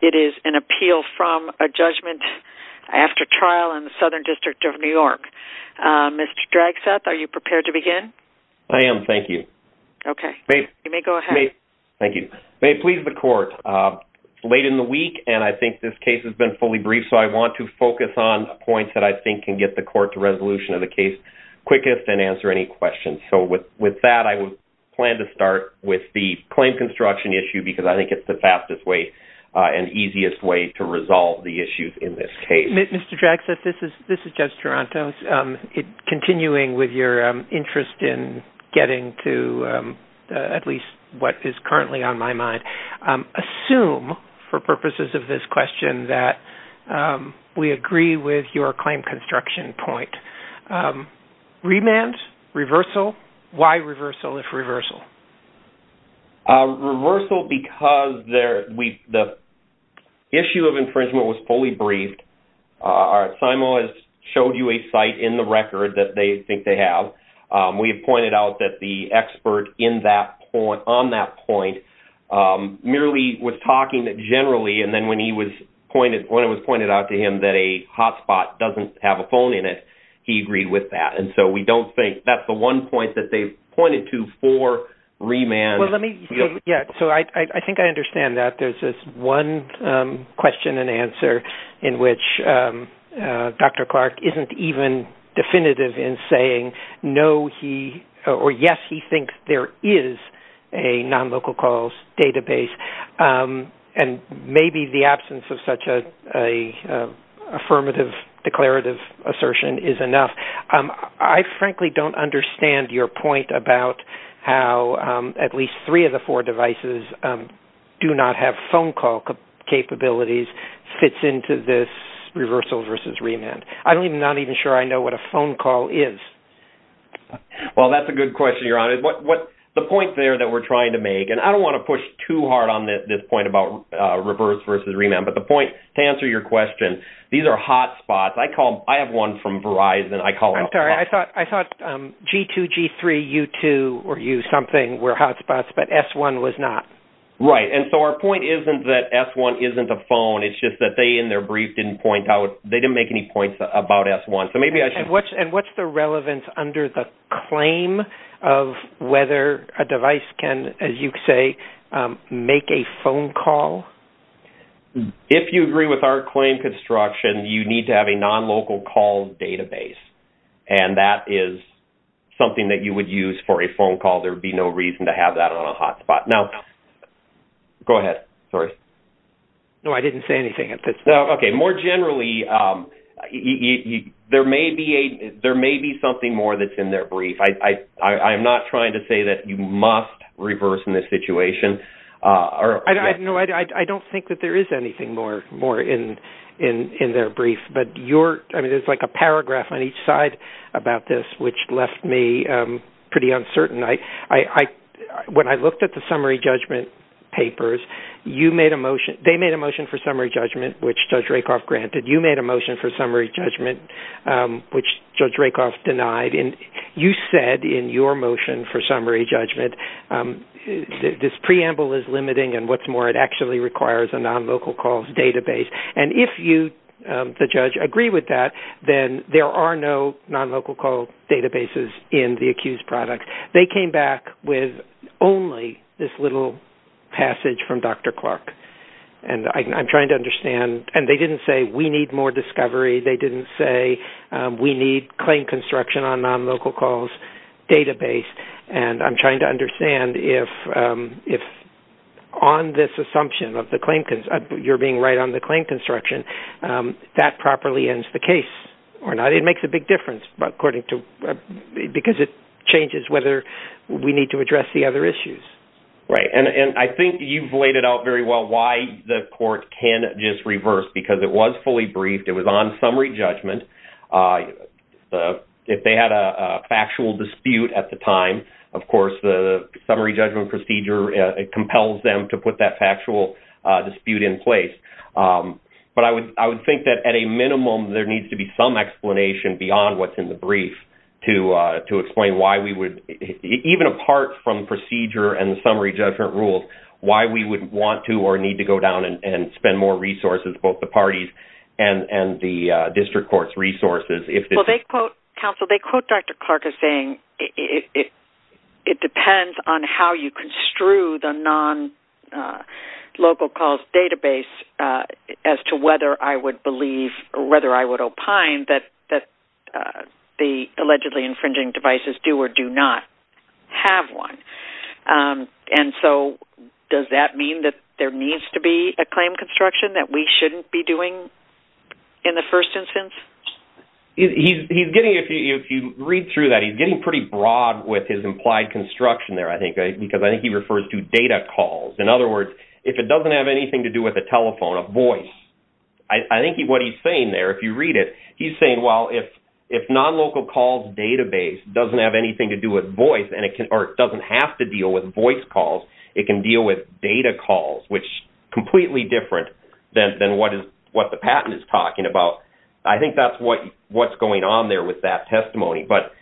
It is an appeal from a judgment after trial in the Southern District of New York. Mr. Dragseth, are you prepared to begin? I am, thank you. Okay. You may go ahead. Thank you. May it please the Court, late in the week and I think this case has been fully briefed, so I want to focus on points that I think can get the Court to resolution of the case quickest and as quickly as possible. So with that, I would plan to start with the claim construction issue because I think it's the fastest way and easiest way to resolve the issues in this case. Mr. Dragseth, this is Judge Taranto. Continuing with your interest in getting to at least what is currently on my mind, assume for purposes of this question that we agree with your claim construction point. Remand? Reversal? Why reversal if reversal? Reversal because the issue of infringement was fully briefed. SIMO has showed you a site in the record that they think they have. We have pointed out that the expert on that point merely was talking generally and then when it was pointed out to him that a hotspot doesn't have a phone in it, he agreed with that. And so we don't think that's the one point that they've pointed to for remand. So I think I understand that. There's this one question and answer in which Dr. Clark isn't even definitive in saying, or yes, he thinks there is a non-local calls database, and maybe the absence of such an affirmative declarative assertion is enough. I frankly don't understand your point about how at least three of the four devices do not have phone call capabilities fits into this reversal versus remand. I'm not even sure I know what a phone call is. Well, that's a good question, Your Honor. The point there that we're trying to make, and I don't want to push too hard on this point about reverse versus remand, but the point to answer your question, these are hotspots. I have one from Verizon. I'm sorry. I thought G2, G3, U2 or U something were hotspots, but S1 was not. Right. And so our point isn't that S1 isn't a phone. It's just that they, in their brief, didn't point out. It's about S1. And what's the relevance under the claim of whether a device can, as you say, make a phone call? If you agree with our claim construction, you need to have a non-local call database, and that is something that you would use for a phone call. There would be no reason to have that on a hotspot. Now, go ahead. Sorry. No, I didn't say anything. Okay. More generally, there may be something more that's in their brief. I'm not trying to say that you must reverse in this situation. No, I don't think that there is anything more in their brief, but there's like a paragraph on each side about this, which left me pretty uncertain. When I looked at the summary judgment papers, they made a motion for summary judgment, which Judge Rakoff granted. You made a motion for summary judgment, which Judge Rakoff denied. And you said in your motion for summary judgment, this preamble is limiting and what's more, it actually requires a non-local calls database. And if you, the judge, agree with that, then there are no non-local call databases in the accused product. They came back with only this little passage from Dr. Clark. And I'm trying to understand. And they didn't say we need more discovery. They didn't say we need claim construction on non-local calls database. And I'm trying to understand if on this assumption of the claim, you're being right on the claim construction, that properly ends the case or not. It makes a big difference because it changes whether we need to address the other issues. Right. And I think you've laid it out very well why the court can just reverse, because it was fully briefed. It was on summary judgment. If they had a factual dispute at the time, of course, the summary judgment procedure compels them to put that factual dispute in place. But I would think that, at a minimum, there needs to be some explanation beyond what's in the brief to explain why we would, even apart from procedure and the summary judgment rules, why we would want to or need to go down and spend more resources, both the parties and the district court's resources. Counsel, they quote Dr. Clark as saying, it depends on how you construe the non-local calls database as to whether I would believe or whether I would opine that the allegedly infringing devices do or do not have one. And so does that mean that there needs to be a claim construction that we shouldn't be doing in the first instance? He's getting, if you read through that, he's getting pretty broad with his implied construction there, I think, because I think he refers to data calls. In other words, if it doesn't have anything to do with a telephone, a voice, I think what he's saying there, if you read it, he's saying, well, if non-local calls database doesn't have anything to do with voice or it doesn't have to deal with voice calls, it can deal with data calls, which is completely different than what the patent is talking about. I think that's what's going on there with that testimony. But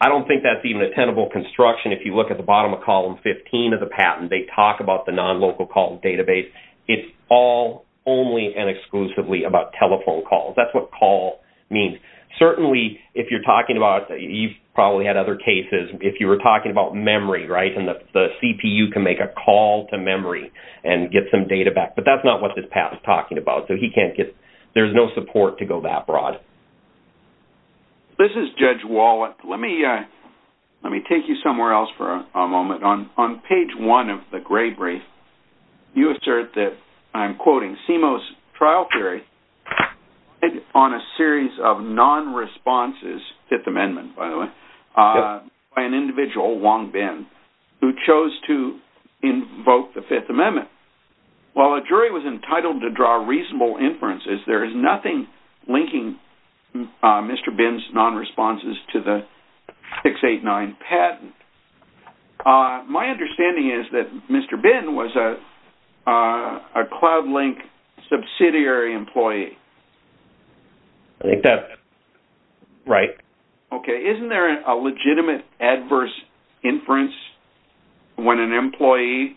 I don't think that's even a tenable construction. If you look at the bottom of column 15 of the patent, they talk about the non-local call database. It's all only and exclusively about telephone calls. That's what call means. Certainly, if you're talking about, you've probably had other cases, if you were talking about memory, right, and the CPU can make a call to memory and get some data back. But that's not what this patent is talking about. So he can't get – there's no support to go that broad. This is Judge Wall. Let me take you somewhere else for a moment. On page 1 of the Gray Brief, you assert that, I'm quoting, CIMO's trial theory on a series of non-responses, Fifth Amendment, by the way, by an individual, Wong Bin, who chose to invoke the Fifth Amendment. While a jury was entitled to draw reasonable inferences, there is nothing linking Mr. Bin's non-responses to the 689 patent. My understanding is that Mr. Bin was a Cloudlink subsidiary employee. I think that's right. Okay. Isn't there a legitimate adverse inference when an employee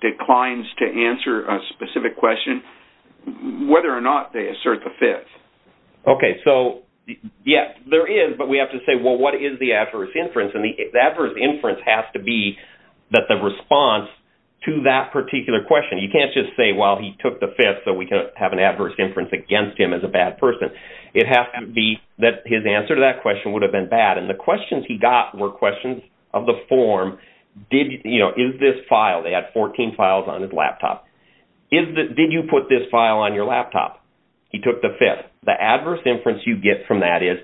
declines to answer a specific question, whether or not they assert the Fifth? Okay. So, yes, there is, but we have to say, well, what is the adverse inference? And the adverse inference has to be that the response to that particular question. You can't just say, well, he took the Fifth, so we can have an adverse inference against him as a bad person. It has to be that his answer to that question would have been bad, and the questions he got were questions of the form, you know, is this filed? They had 14 files on his laptop. Did you put this file on your laptop? He took the Fifth. The adverse inference you get from that is,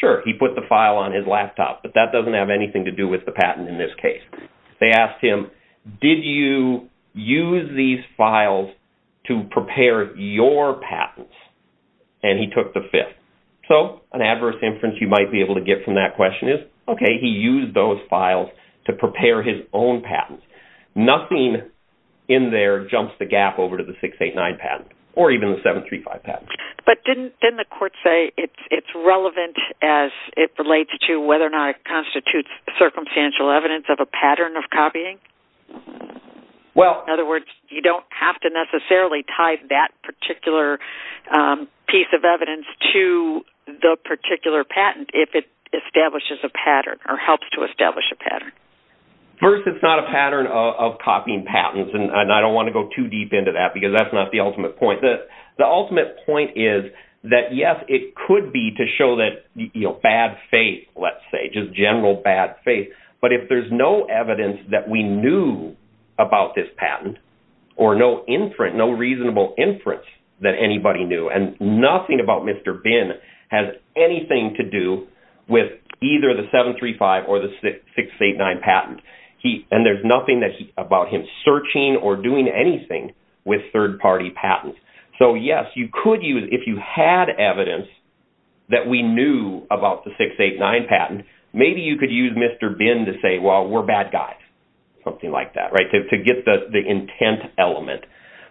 sure, he put the file on his laptop, but that doesn't have anything to do with the patent in this case. They asked him, did you use these files to prepare your patents? And he took the Fifth. So an adverse inference you might be able to get from that question is, okay, he used those files to prepare his own patents. Nothing in there jumps the gap over to the 689 patent or even the 735 patent. But didn't the court say it's relevant as it relates to whether or not it constitutes circumstantial evidence of a pattern of copying? In other words, you don't have to necessarily tie that particular piece of evidence to the particular patent if it establishes a pattern or helps to establish a pattern. First, it's not a pattern of copying patents, and I don't want to go too deep into that because that's not the ultimate point. The ultimate point is that, yes, it could be to show that bad faith, let's say, just general bad faith. But if there's no evidence that we knew about this patent, or no inference, no reasonable inference that anybody knew, and nothing about Mr. Bin has anything to do with either the 735 or the 689 patent, and there's nothing about him searching or doing anything with third-party patents. So, yes, you could use, if you had evidence that we knew about the 689 patent, maybe you could use Mr. Bin to say, well, we're bad guys, something like that, to get the intent element.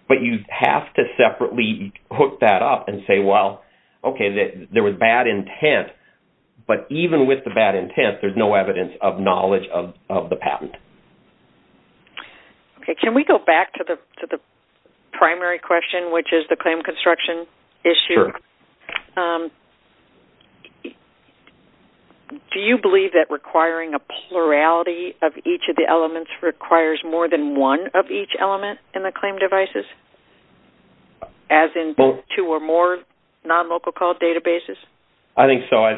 But you have to separately hook that up and say, well, okay, there was bad intent, but even with the bad intent, there's no evidence of knowledge of the patent. Can we go back to the primary question, which is the claim construction issue? Sure. Do you believe that requiring a plurality of each of the elements requires more than one of each element in the claim devices, as in both two or more non-local called databases? I think so. I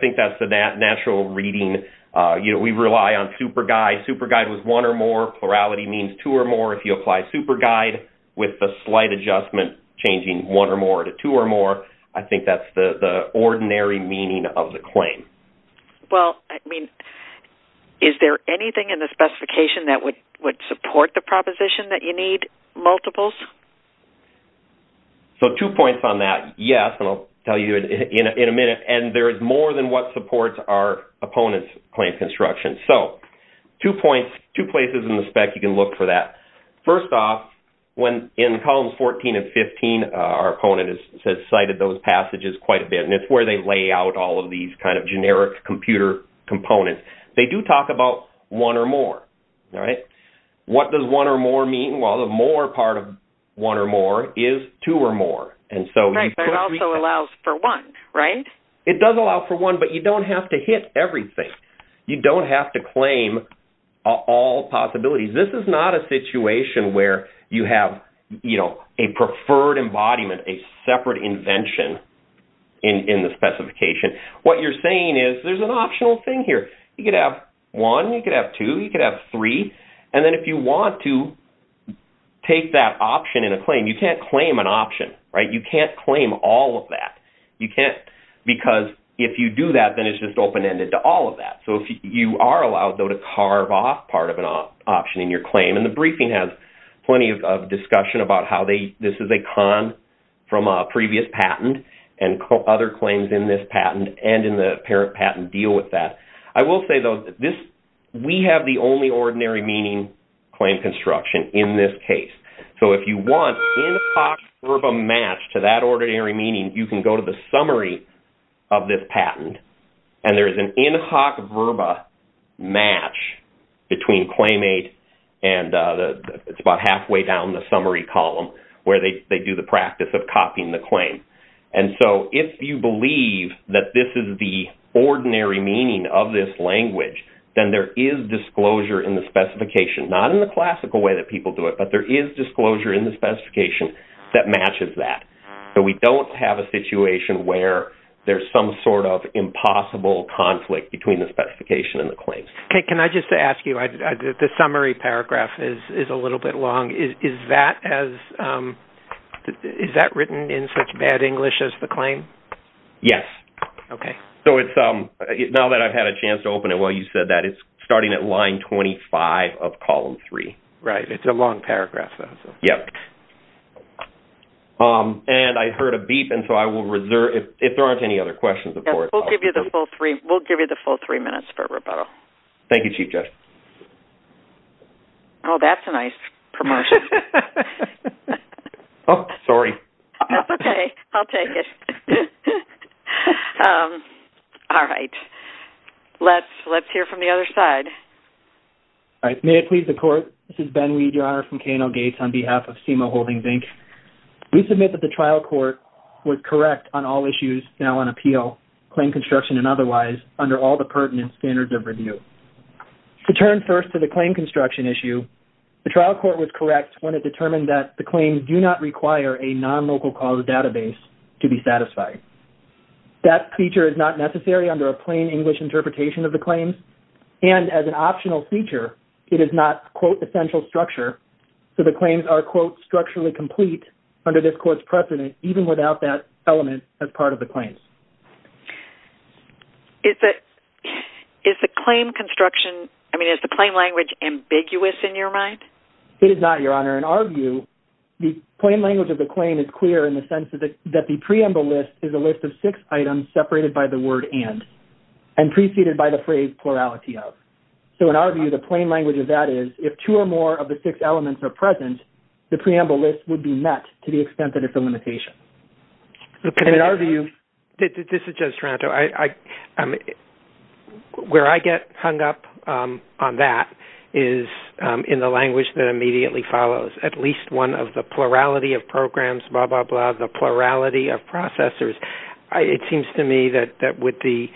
think that's the natural reading. We rely on superguide. Superguide was one or more. Plurality means two or more. If you apply superguide with a slight adjustment, changing one or more to two or more, I think that's the ordinary meaning of the claim. Well, I mean, is there anything in the specification that would support the proposition that you need multiples? So two points on that, yes, and I'll tell you in a minute. And there is more than what supports our opponent's claim construction. So two points, two places in the spec you can look for that. First off, in columns 14 and 15, our opponent has cited those passages quite a bit, and it's where they lay out all of these kind of generic computer components. They do talk about one or more. What does one or more mean? Well, the more part of one or more is two or more. Right, but it also allows for one, right? It does allow for one, but you don't have to hit everything. You don't have to claim all possibilities. This is not a situation where you have, you know, a preferred embodiment, a separate invention in the specification. What you're saying is there's an optional thing here. You could have one. You could have two. You could have three. And then if you want to take that option in a claim, you can't claim an option, right? You can't claim all of that. You can't because if you do that, then it's just open-ended to all of that. So you are allowed, though, to carve off part of an option in your claim, and the briefing has plenty of discussion about how this is a con from a previous patent and other claims in this patent and in the parent patent deal with that. I will say, though, we have the only ordinary meaning claim construction in this case. So if you want in hoc verba match to that ordinary meaning, you can go to the summary of this patent, and there is an in hoc verba match between claimate and it's about halfway down the summary column where they do the practice of copying the claim. And so if you believe that this is the ordinary meaning of this language, then there is disclosure in the specification, not in the classical way that people do it, but there is disclosure in the specification that matches that. So we don't have a situation where there's some sort of impossible conflict between the specification and the claims. Can I just ask you, the summary paragraph is a little bit long. Is that written in such bad English as the claim? Yes. Okay. So now that I've had a chance to open it while you said that, it's starting at line 25 of column 3. Right. It's a long paragraph. Yes. And I heard a beep, and so I will reserve it if there aren't any other questions. We'll give you the full three minutes for rebuttal. Thank you, Chief Judge. Oh, that's a nice promotion. Oh, sorry. Okay. I'll take it. All right. Let's hear from the other side. All right. May it please the Court, this is Ben Reed, Your Honor, from K&L Gates, on behalf of SEMA Holdings, Inc. We submit that the trial court was correct on all issues now on appeal, claim construction and otherwise, under all the pertinent standards of review. To turn first to the claim construction issue, the trial court was correct when it determined that the claims do not require a non-local cause database to be satisfied. That feature is not necessary under a plain English interpretation of the claims, and as an optional feature, it is not, quote, essential structure, so the claims are, quote, structurally complete under this court's precedent, even without that element as part of the claims. Is the claim construction, I mean, is the claim language ambiguous in your mind? It is not, Your Honor. In our view, the plain language of the claim is clear in the sense that the preamble list is a list of six items separated by the word and, preceded by the phrase plurality of. So in our view, the plain language of that is, if two or more of the six elements are present, the preamble list would be met to the extent that it's a limitation. And in our view- This is Judge Taranto. Where I get hung up on that is in the language that immediately follows, at least one of the plurality of programs, blah, blah, blah, the plurality of processors. It seems to me that with the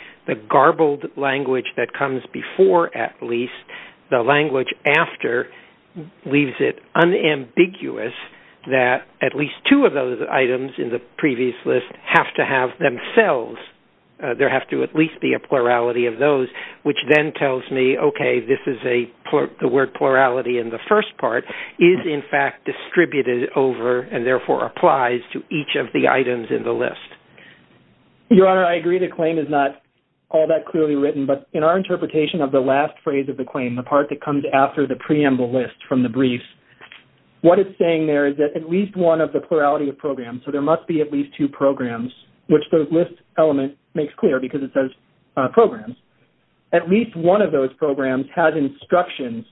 garbled language that comes before, at least, the language after leaves it unambiguous that at least two of those items in the previous list have to have themselves, there have to at least be a plurality of those, which then tells me, okay, this is the word plurality in the first part is, in fact, distributed over and, therefore, applies to each of the items in the list. Your Honor, I agree. The claim is not all that clearly written, but in our interpretation of the last phrase of the claim, the part that comes after the preamble list from the briefs, what it's saying there is that at least one of the plurality of programs, so there must be at least two programs, which the list element makes clear because it says programs, at least one of those programs has instructions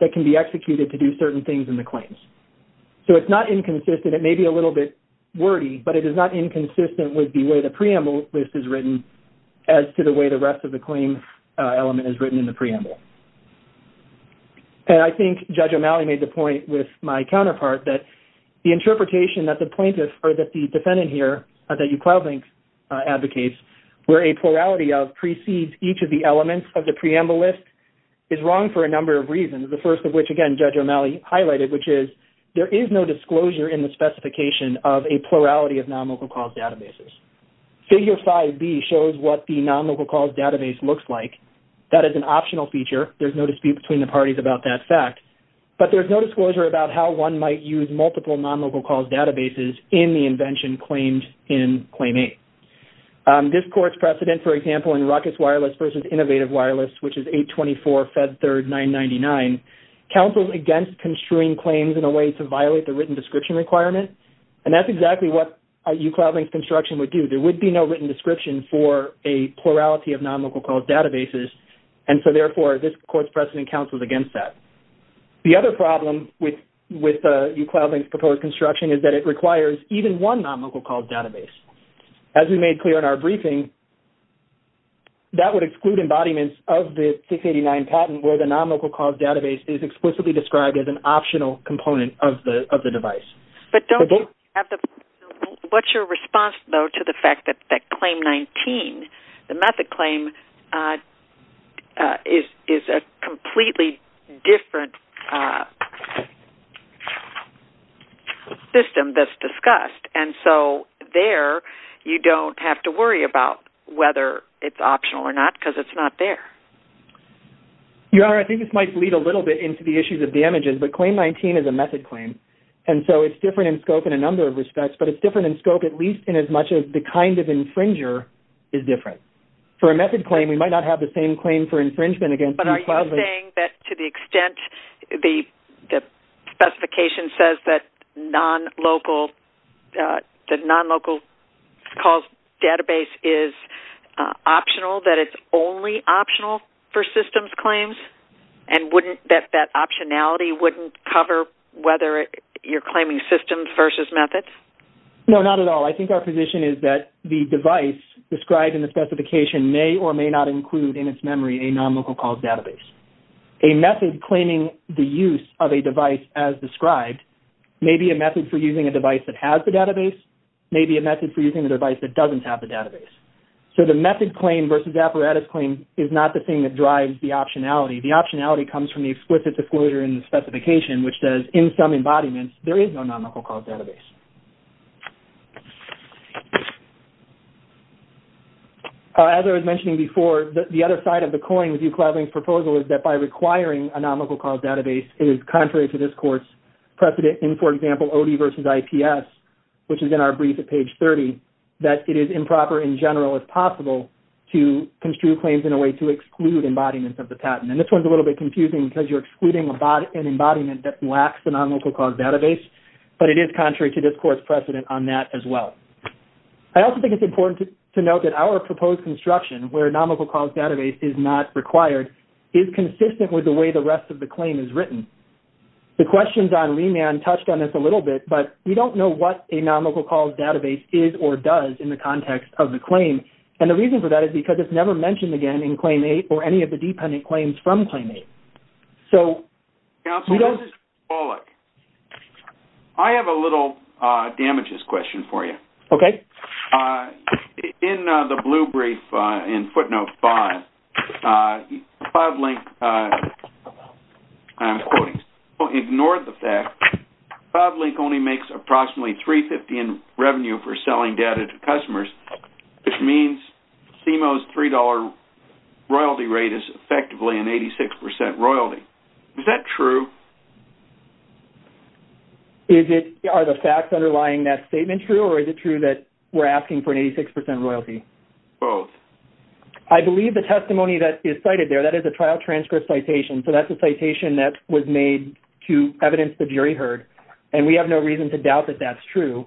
that can be executed to do certain things in the claims. So it's not inconsistent. It may be a little bit wordy, but it is not inconsistent with the way the preamble list is written as to the way the rest of the claim element is written in the preamble. And I think Judge O'Malley made the point with my counterpart that the interpretation that the plaintiff or that the defendant here, that you cloudlink advocates, where a plurality of precedes each of the elements of the preamble list is wrong for a number of reasons. The first of which, again, Judge O'Malley highlighted, which is there is no disclosure in the specification of a plurality of non-local cause databases. Figure 5B shows what the non-local cause database looks like. That is an optional feature. There's no dispute between the parties about that fact. But there's no disclosure about how one might use multiple non-local cause databases in the invention claimed in Claim 8. This court's precedent, for example, in Ruckus Wireless versus Innovative Wireless, which is 824 Fed 3rd 999, counseled against construing claims in a way to violate the written description requirement. And that's exactly what you cloudlink construction would do. There would be no written description for a plurality of non-local cause databases. And so, therefore, this court's precedent counseled against that. The other problem with you cloudlink's proposed construction is that it As we made clear in our briefing, that would exclude embodiments of the 689 patent where the non-local cause database is explicitly described as an optional component of the device. But don't you have the, what's your response, though, to the fact that Claim 19, the method claim, is a completely different system that's discussed. And so there you don't have to worry about whether it's optional or not because it's not there. Your Honor, I think this might lead a little bit into the issues of damages, but Claim 19 is a method claim. And so it's different in scope in a number of respects, but it's different in scope, at least in as much as the kind of infringer is different. For a method claim, we might not have the same claim for infringement against you cloudlink. But are you saying that to the extent the specification says that non-local cause database is optional, that it's only optional for systems claims and wouldn't, that that optionality wouldn't cover whether you're claiming systems versus methods? No, not at all. I think our position is that the device described in the specification may or may not include in its memory a non-local cause database. A method claiming the use of a device as described may be a method for using a device that has the database, maybe a method for using the device that doesn't have the database. So the method claim versus apparatus claim is not the thing that drives the optionality. The optionality comes from the explicit disclosure in the specification, which says in some embodiments, there is no non-local cause database. As I was mentioning before, the other side of the coin with you cloudlink proposal is that by requiring a non-local cause database, it is contrary to this course precedent in, for example, OD versus IPS, which is in our brief at page 30, that it is improper in general as possible to construe claims in a way to exclude embodiments of the patent. And this one's a little bit confusing because you're excluding an embodiment that lacks a non-local cause database, but it is contrary to this course precedent on that as well. I also think it's important to note that our proposed construction where non-local cause database is not required is consistent with the way the rest of the claim is written. The questions on remand touched on this a little bit, but we don't know what a non-local cause database is or does in the context of the claim. And the reason for that is because it's never mentioned again in claim eight or any of the dependent claims from claim eight. So we don't... Councilman Pawlik, I have a little damages question for you. Okay. In the blue brief in footnote five, Pawlik, I'm quoting, ignored the fact Pawlik only makes approximately $3.50 in revenue for selling data to customers, which means CMO's $3 royalty rate is effectively an 86% royalty. Is that true? Are the facts underlying that statement true or is it true that we're asking for an 86% royalty? Both. I believe the testimony that is cited there, that is a trial transcript citation. So that's a citation that was made to evidence the jury heard, and we have no reason to doubt that that's true.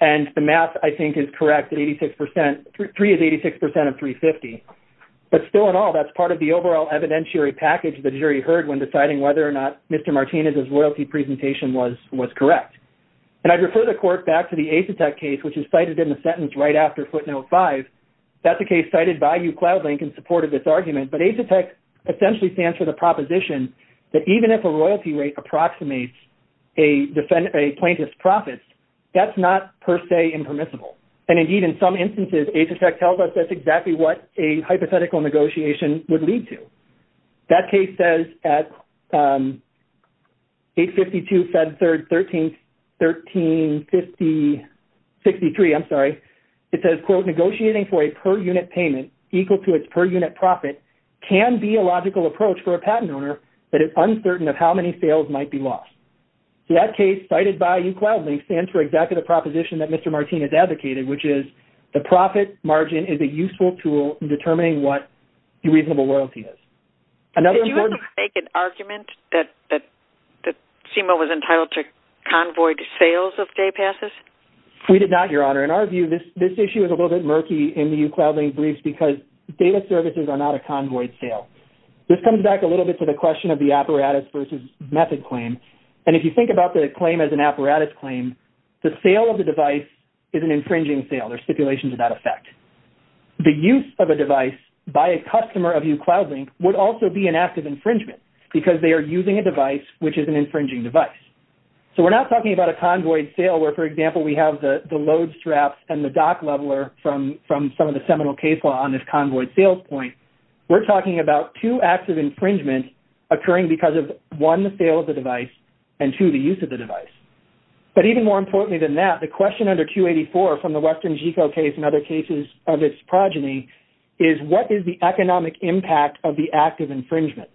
And the math I think is correct. Three is 86% of $3.50. But still in all, that's part of the overall evidentiary package the jury heard when deciding whether or not Mr. Martinez's royalty presentation was correct. And I'd refer the court back to the Asetek case, which is cited in the sentence right after footnote five. That's a case cited by you Cloudlink in support of this argument. But Asetek essentially stands for the proposition that even if a royalty rate approximates a plaintiff's profits, that's not per se impermissible. And indeed in some instances, Asetek tells us that's exactly what a hypothetical negotiation would lead to. That case says at 852, Fed Third, 13, 13, 50, 63, I'm sorry. It says, quote, negotiating for a per unit payment equal to its per unit profit can be a logical approach for a patent owner that is uncertain of how many sales might be lost. So that case cited by you Cloudlink stands for exactly the proposition that Mr. Martinez advocated, which is the profit margin is a useful tool in determining what the reasonable loyalty is. Another important- Did you have to make an argument that CMO was entitled to convoy to sales of day passes? We did not, Your Honor. In our view, this issue is a little bit murky in the you Cloudlink briefs because data services are not a convoy sale. This comes back a little bit to the question of the apparatus versus method claim. And if you think about the claim as an apparatus claim, the sale of the device is an infringing sale. There's stipulations of that effect. The use of a device by a customer of you Cloudlink would also be an active infringement because they are using a device, which is an infringing device. So we're not talking about a convoy sale where, for example, we have the load straps and the dock leveler from some of the seminal case law on this convoy sales point. We're talking about two acts of infringement occurring because of one, the sale of the device and two, the use of the device. But even more importantly than that, the question under 284 from the Western GCO case and other cases of its progeny is what is the economic impact of the active infringement?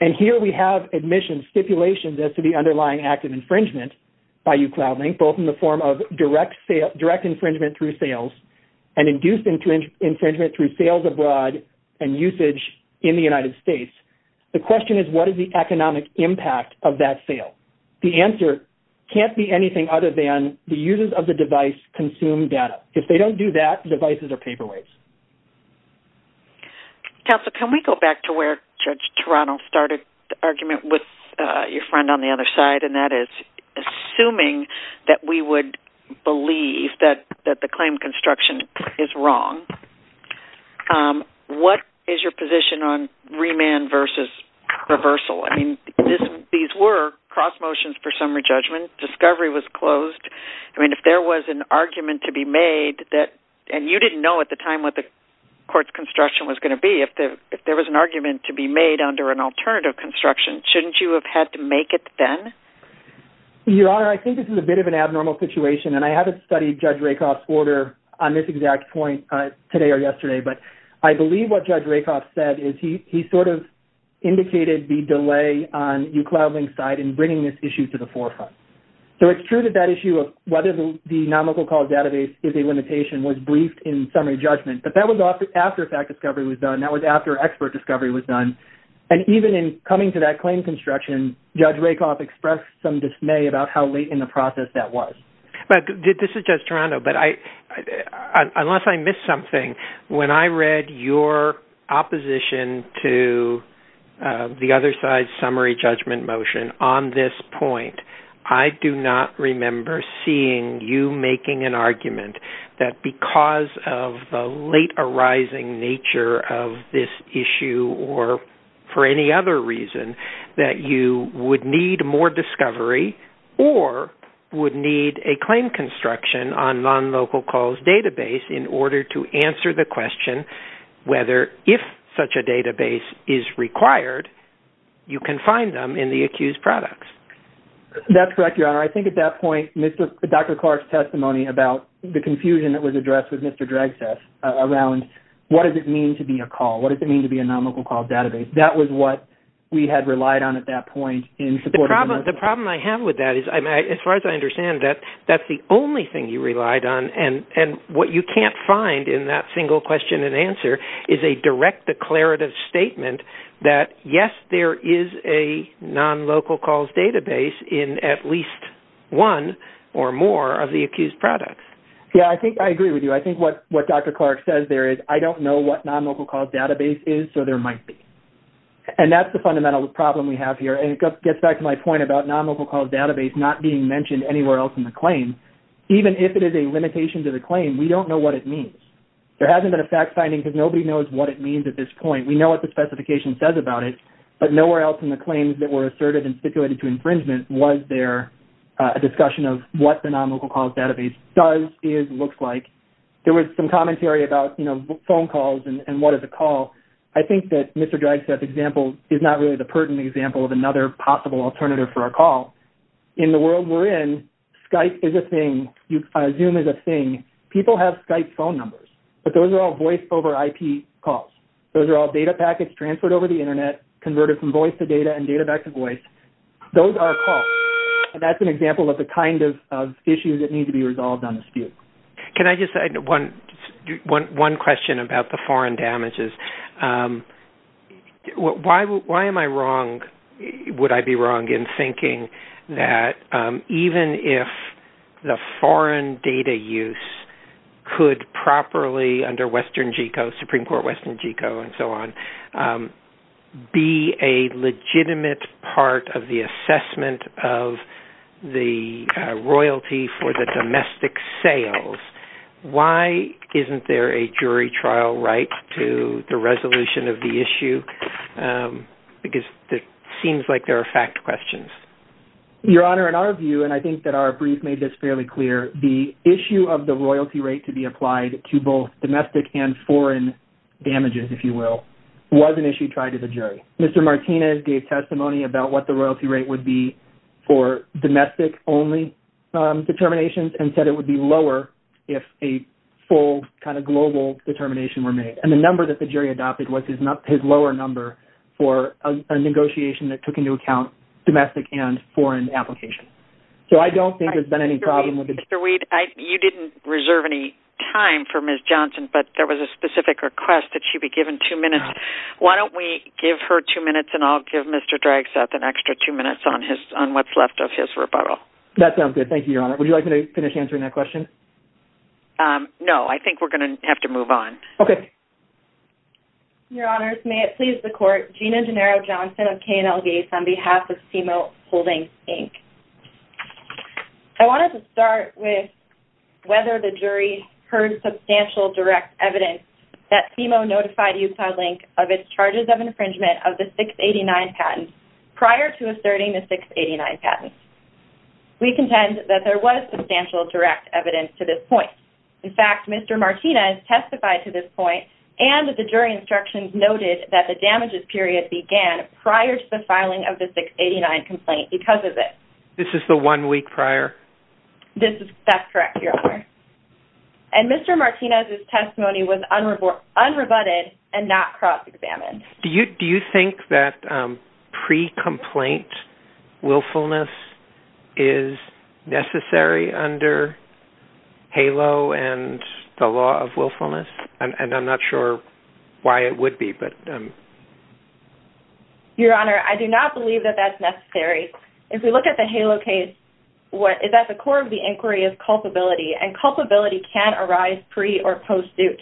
And here we have admissions stipulations as to the underlying active infringement by you Cloudlink, both in the form of direct infringement through sales and induced infringement through sales abroad and usage in the United States. The question is what is the economic impact of that sale? The answer can't be anything other than the users of the device consume data. If they don't do that, devices are paperweights. Council, can we go back to where Judge Toronto started the argument with your that we would believe that, that the claim construction is wrong. What is your position on remand versus reversal? I mean, these were cross motions for summary judgment. Discovery was closed. I mean, if there was an argument to be made that, and you didn't know at the time what the court's construction was going to be, if there, if there was an argument to be made under an alternative construction, shouldn't you have had to make it then? Your Honor, I think this is a bit of an abnormal situation. And I haven't studied Judge Rakoff's order on this exact point today or yesterday, but I believe what Judge Rakoff said is he, he sort of indicated the delay on you cloud link side and bringing this issue to the forefront. So it's true that that issue of whether the nonlocal call database is a limitation was briefed in summary judgment, but that was often after fact discovery was done. That was after expert discovery was done. And even in coming to that claim construction, Judge Rakoff expressed some dismay about how late in the process that was. But this is just Toronto, but I, unless I missed something, when I read your opposition to the other side, summary judgment motion on this point, I do not remember seeing you making an argument that because of the late arising nature of this issue, or for any other reason that you would need more discovery or would need a claim construction on nonlocal calls database in order to answer the question, whether if such a database is required, you can find them in the accused products. That's correct, Your Honor. I think at that point, Mr. Dr. Clark's testimony about the confusion that was addressed with Mr. That was what we had relied on at that point. The problem I have with that is, as far as I understand that, that's the only thing you relied on. And what you can't find in that single question and answer is a direct declarative statement that, yes, there is a nonlocal calls database in at least one or more of the accused products. Yeah, I think I agree with you. I think what Dr. Clark says there is I don't know what nonlocal calls database is. So there might be. And that's the fundamental problem we have here. And it gets back to my point about nonlocal calls database not being mentioned anywhere else in the claim. Even if it is a limitation to the claim, we don't know what it means. There hasn't been a fact finding because nobody knows what it means at this point. We know what the specification says about it, but nowhere else in the claims that were asserted and stipulated to infringement was there a discussion of what the nonlocal calls database does, is, looks like. There was some commentary about, you know, phone calls and what is a call. I think that Mr. Dragstaff's example is not really the pertinent example of another possible alternative for a call. In the world we're in, Skype is a thing. Zoom is a thing. People have Skype phone numbers. But those are all voice over IP calls. Those are all data packets transferred over the Internet, converted from voice to data and data back to voice. Those are calls. And that's an example of the kind of issues that need to be resolved on the dispute. Can I just add one question about the foreign damages? Why am I wrong, would I be wrong, in thinking that even if the foreign data use could properly, under Western GECO, Supreme Court Western GECO and so on, be a legitimate part of the assessment of the royalty for the domestic sales? Why isn't there a jury trial right to the resolution of the issue? Because it seems like there are fact questions. Your Honor, in our view, and I think that our brief made this fairly clear, the issue of the royalty rate to be applied to both domestic and foreign damages, if you will, was an issue tried to the jury. Mr. Martinez gave testimony about what the royalty rate would be for domestic only determinations and said it would be lower if a full kind of global determination were made. And the number that the jury adopted was his lower number for a negotiation that took into account domestic and foreign applications. So I don't think there's been any problem with it. Mr. Weed, you didn't reserve any time for Ms. Johnson, but there was a specific request that she be given two minutes. Why don't we give her two minutes and I'll give Mr. Dragseth an extra two minutes on what's left of his rebuttal. That sounds good. Thank you, Your Honor. Would you like me to finish answering that question? No, I think we're going to have to move on. Okay. Your Honors, may it please the court, Gina Gennaro Johnson of KNL Gates on behalf of CMO Holdings Inc. I wanted to start with whether the jury heard substantial direct evidence that CMO notified UCI Link of its charges of infringement of the 689 patent prior to asserting the 689 patent. We contend that there was substantial direct evidence to this point. In fact, Mr. Martinez testified to this point and the jury instructions noted that the damages period began prior to the filing of the 689 complaint because of it. This is the one week prior? That's correct, Your Honor. And Mr. Martinez's testimony was unrebutted and not cross-examined. Do you think that pre-complaint willfulness is necessary under HALO and the law of willfulness? And I'm not sure why it would be. Your Honor, I do not believe that that's necessary. If we look at the HALO case, what is at the core of the inquiry is culpability, and culpability can arise pre- or post-suit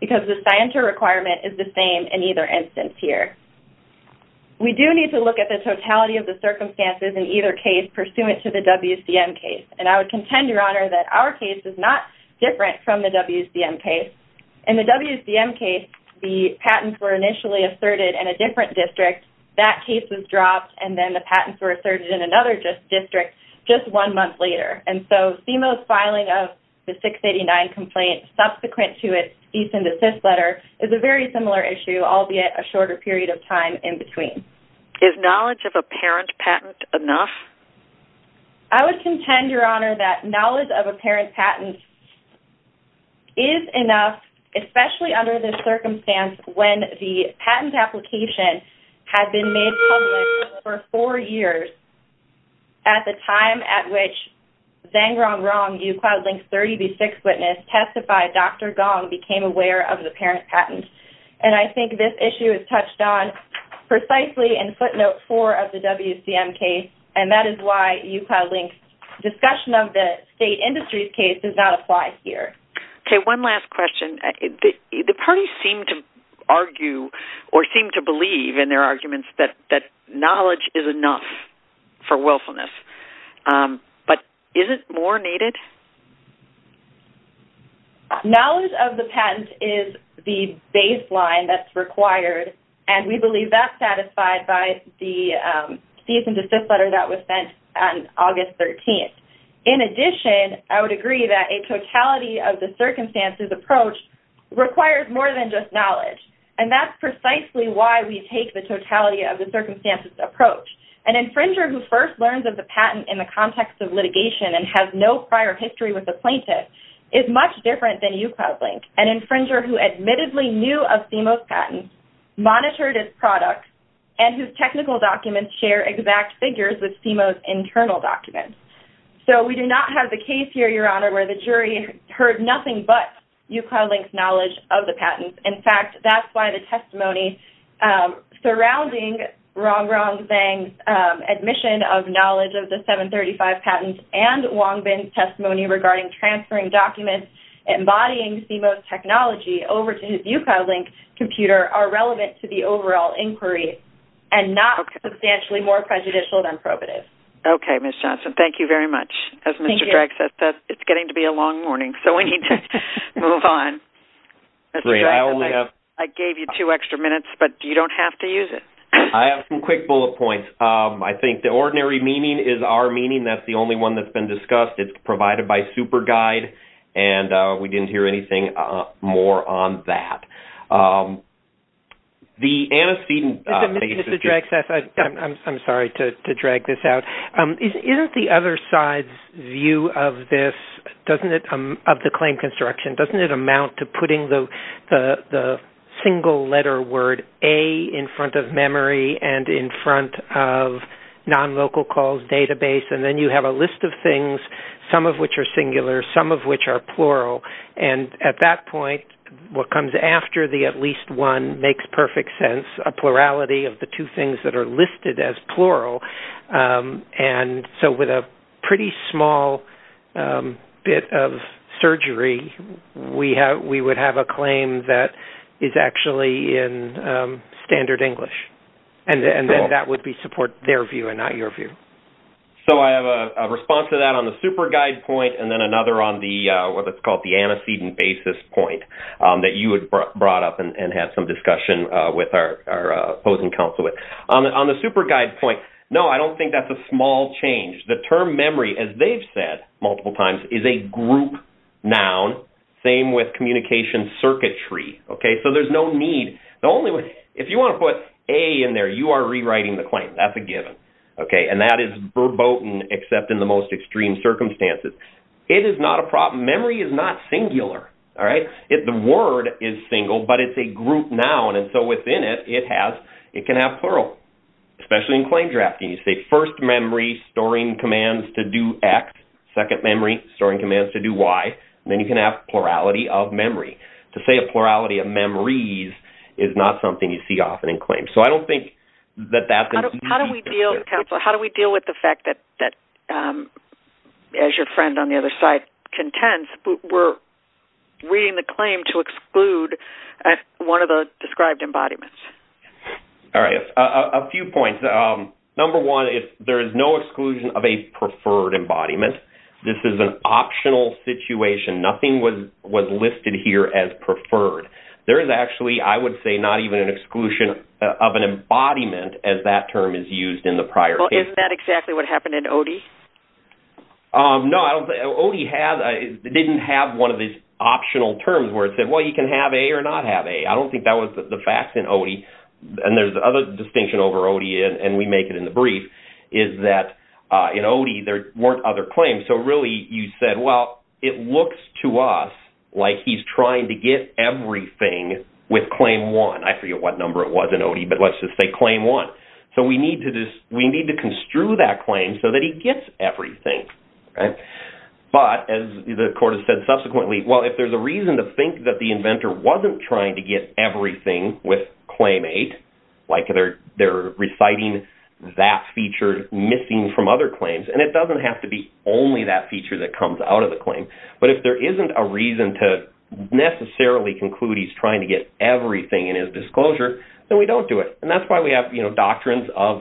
because the scienter requirement is the same in either instance here. We do need to look at the totality of the circumstances in either case pursuant to the WCM case, and I would contend, Your Honor, that our case is not different from the WCM case. In the WCM case, the patents were initially asserted in a different district. That case was dropped, and then the patents were asserted in another district just one month later. And so CMO's filing of the 689 complaint subsequent to its decent assist letter is a very similar issue, albeit a shorter period of time in between. Is knowledge of a parent patent enough? I would contend, Your Honor, that knowledge of a parent patent is enough, especially under the circumstance when the patent application had been made public for four years at the time at which Zhang Rongrong, UCloud Link's 30b6 witness, testified Dr. Gong became aware of the parent patent. And I think this issue is touched on precisely in footnote 4 of the WCM case, and that is why UCloud Link's discussion of the state industry's case does not apply here. Okay. One last question. The parties seem to argue or seem to believe in their arguments that knowledge is enough for willfulness. But is it more needed? Knowledge of the patent is the baseline that's required, and we believe that's satisfied by the decent assist letter that was sent on August 13th. In addition, I would agree that a totality of the circumstances approach requires more than just knowledge, and that's precisely why we take the totality of the circumstances approach. An infringer who first learns of the patent in the context of litigation and has no prior history with the plaintiff is much different than UCloud Link, an infringer who admittedly knew of CIMO's patent, monitored its product, and whose technical documents share exact figures with CIMO's technology. So we do not have the case here, Your Honor, where the jury heard nothing but UCloud Link's knowledge of the patent. In fact, that's why the testimony surrounding Rong Rong Zhang's admission of knowledge of the 735 patent and Wong Bin's testimony regarding transferring documents embodying CIMO's technology over to UCloud Link's computer are relevant to the overall inquiry and not substantially more prejudicial than probative. Okay, Ms. Johnson. Thank you very much. Thank you. As Mr. Dragseth said, it's getting to be a long morning, so we need to move on. Great. I only have... I gave you two extra minutes, but you don't have to use it. I have some quick bullet points. I think the ordinary meaning is our meaning. That's the only one that's been discussed. It's provided by SuperGuide, and we didn't hear anything more on that. The antecedent... Mr. Dragseth, I'm sorry to drag this out. Isn't the other side's view of this, of the claim construction, doesn't it amount to putting the single letter word A in front of memory and in front of non-local calls database, and then you have a list of things, some of which are singular, some of which are plural, and at that point what comes after the at least one makes perfect sense, a plurality of the two things that are listed as plural. So with a pretty small bit of surgery, we would have a claim that is actually in standard English, and then that would support their view and not your view. So I have a response to that on the SuperGuide point, and then another on what's called the antecedent basis point that you had brought up and have some discussion with our opposing counsel with. On the SuperGuide point, no, I don't think that's a small change. The term memory, as they've said multiple times, is a group noun, same with communication circuitry. So there's no need. If you want to put A in there, you are rewriting the claim. That's a given. And that is verboten except in the most extreme circumstances. It is not a problem. Memory is not singular. All right? The word is single, but it's a group noun, and so within it, it can have plural, especially in claim drafting. You say first memory storing commands to do X, second memory storing commands to do Y, and then you can have plurality of memory. To say a plurality of memories is not something you see often in claims. So I don't think that that's an issue. How do we deal with the fact that, as your friend on the other side contends, we're reading the claim to exclude one of the described embodiments? All right. A few points. Number one, there is no exclusion of a preferred embodiment. This is an optional situation. Nothing was listed here as preferred. There is actually, I would say, not even an exclusion of an embodiment as that term is used in the prior case. Isn't that exactly what happened in ODI? No. ODI didn't have one of these optional terms where it said, well, you can have A or not have A. I don't think that was the facts in ODI. And there's another distinction over ODI, and we make it in the brief, is that in ODI there weren't other claims. So really you said, well, it looks to us like he's trying to get everything with claim one. I forget what number it was in ODI, but let's just say claim one. So we need to construe that claim so that he gets everything. But as the court has said subsequently, well, if there's a reason to think that the inventor wasn't trying to get everything with claim eight, like they're reciting that feature missing from other claims, and it doesn't have to be only that feature that comes out of the claim, but if there isn't a reason to necessarily conclude he's trying to get everything in his disclosure, then we don't do it. And that's why we have doctrines of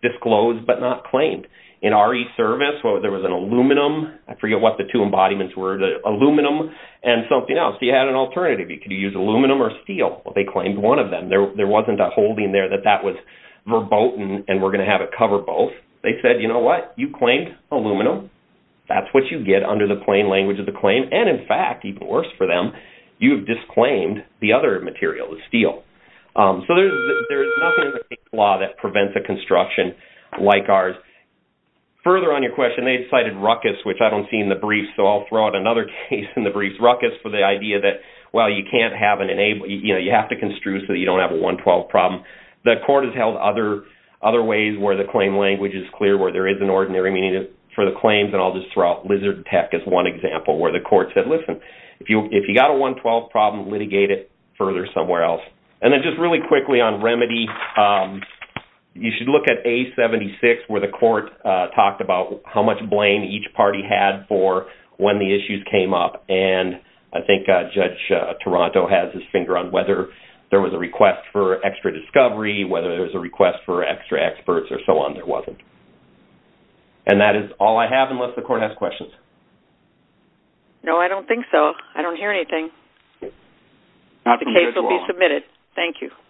disclosed but not claimed. In RE service, there was an aluminum. I forget what the two embodiments were, the aluminum and something else. So you had an alternative. You could use aluminum or steel. Well, they claimed one of them. There wasn't a holding there that that was verboten and we're going to have it cover both. They said, you know what? You claimed aluminum. That's what you get under the plain language of the claim. And in fact, even worse for them, you've disclaimed the other material, the steel. So there's nothing in the case law that prevents a construction like ours. Further on your question, they cited ruckus, which I don't see in the briefs, so I'll throw out another case in the briefs, ruckus for the idea that, well, you can't have an enabling, you know, you have to construe so that you don't have a 112 problem. The court has held other ways where the claim language is clear, where there is an ordinary meaning for the claims, and I'll just throw out lizard tech as one example where the court said, listen, if you got a 112 problem, litigate it further somewhere else. And then just really quickly on remedy, you should look at A76 where the court talked about how much blame each party had for when the issues came up. And I think Judge Toronto has his finger on whether there was a request for extra discovery, whether there was a request for extra experts, or so on. There wasn't. And that is all I have unless the court has questions. No, I don't think so. I don't hear anything. The case will be submitted. Thank you.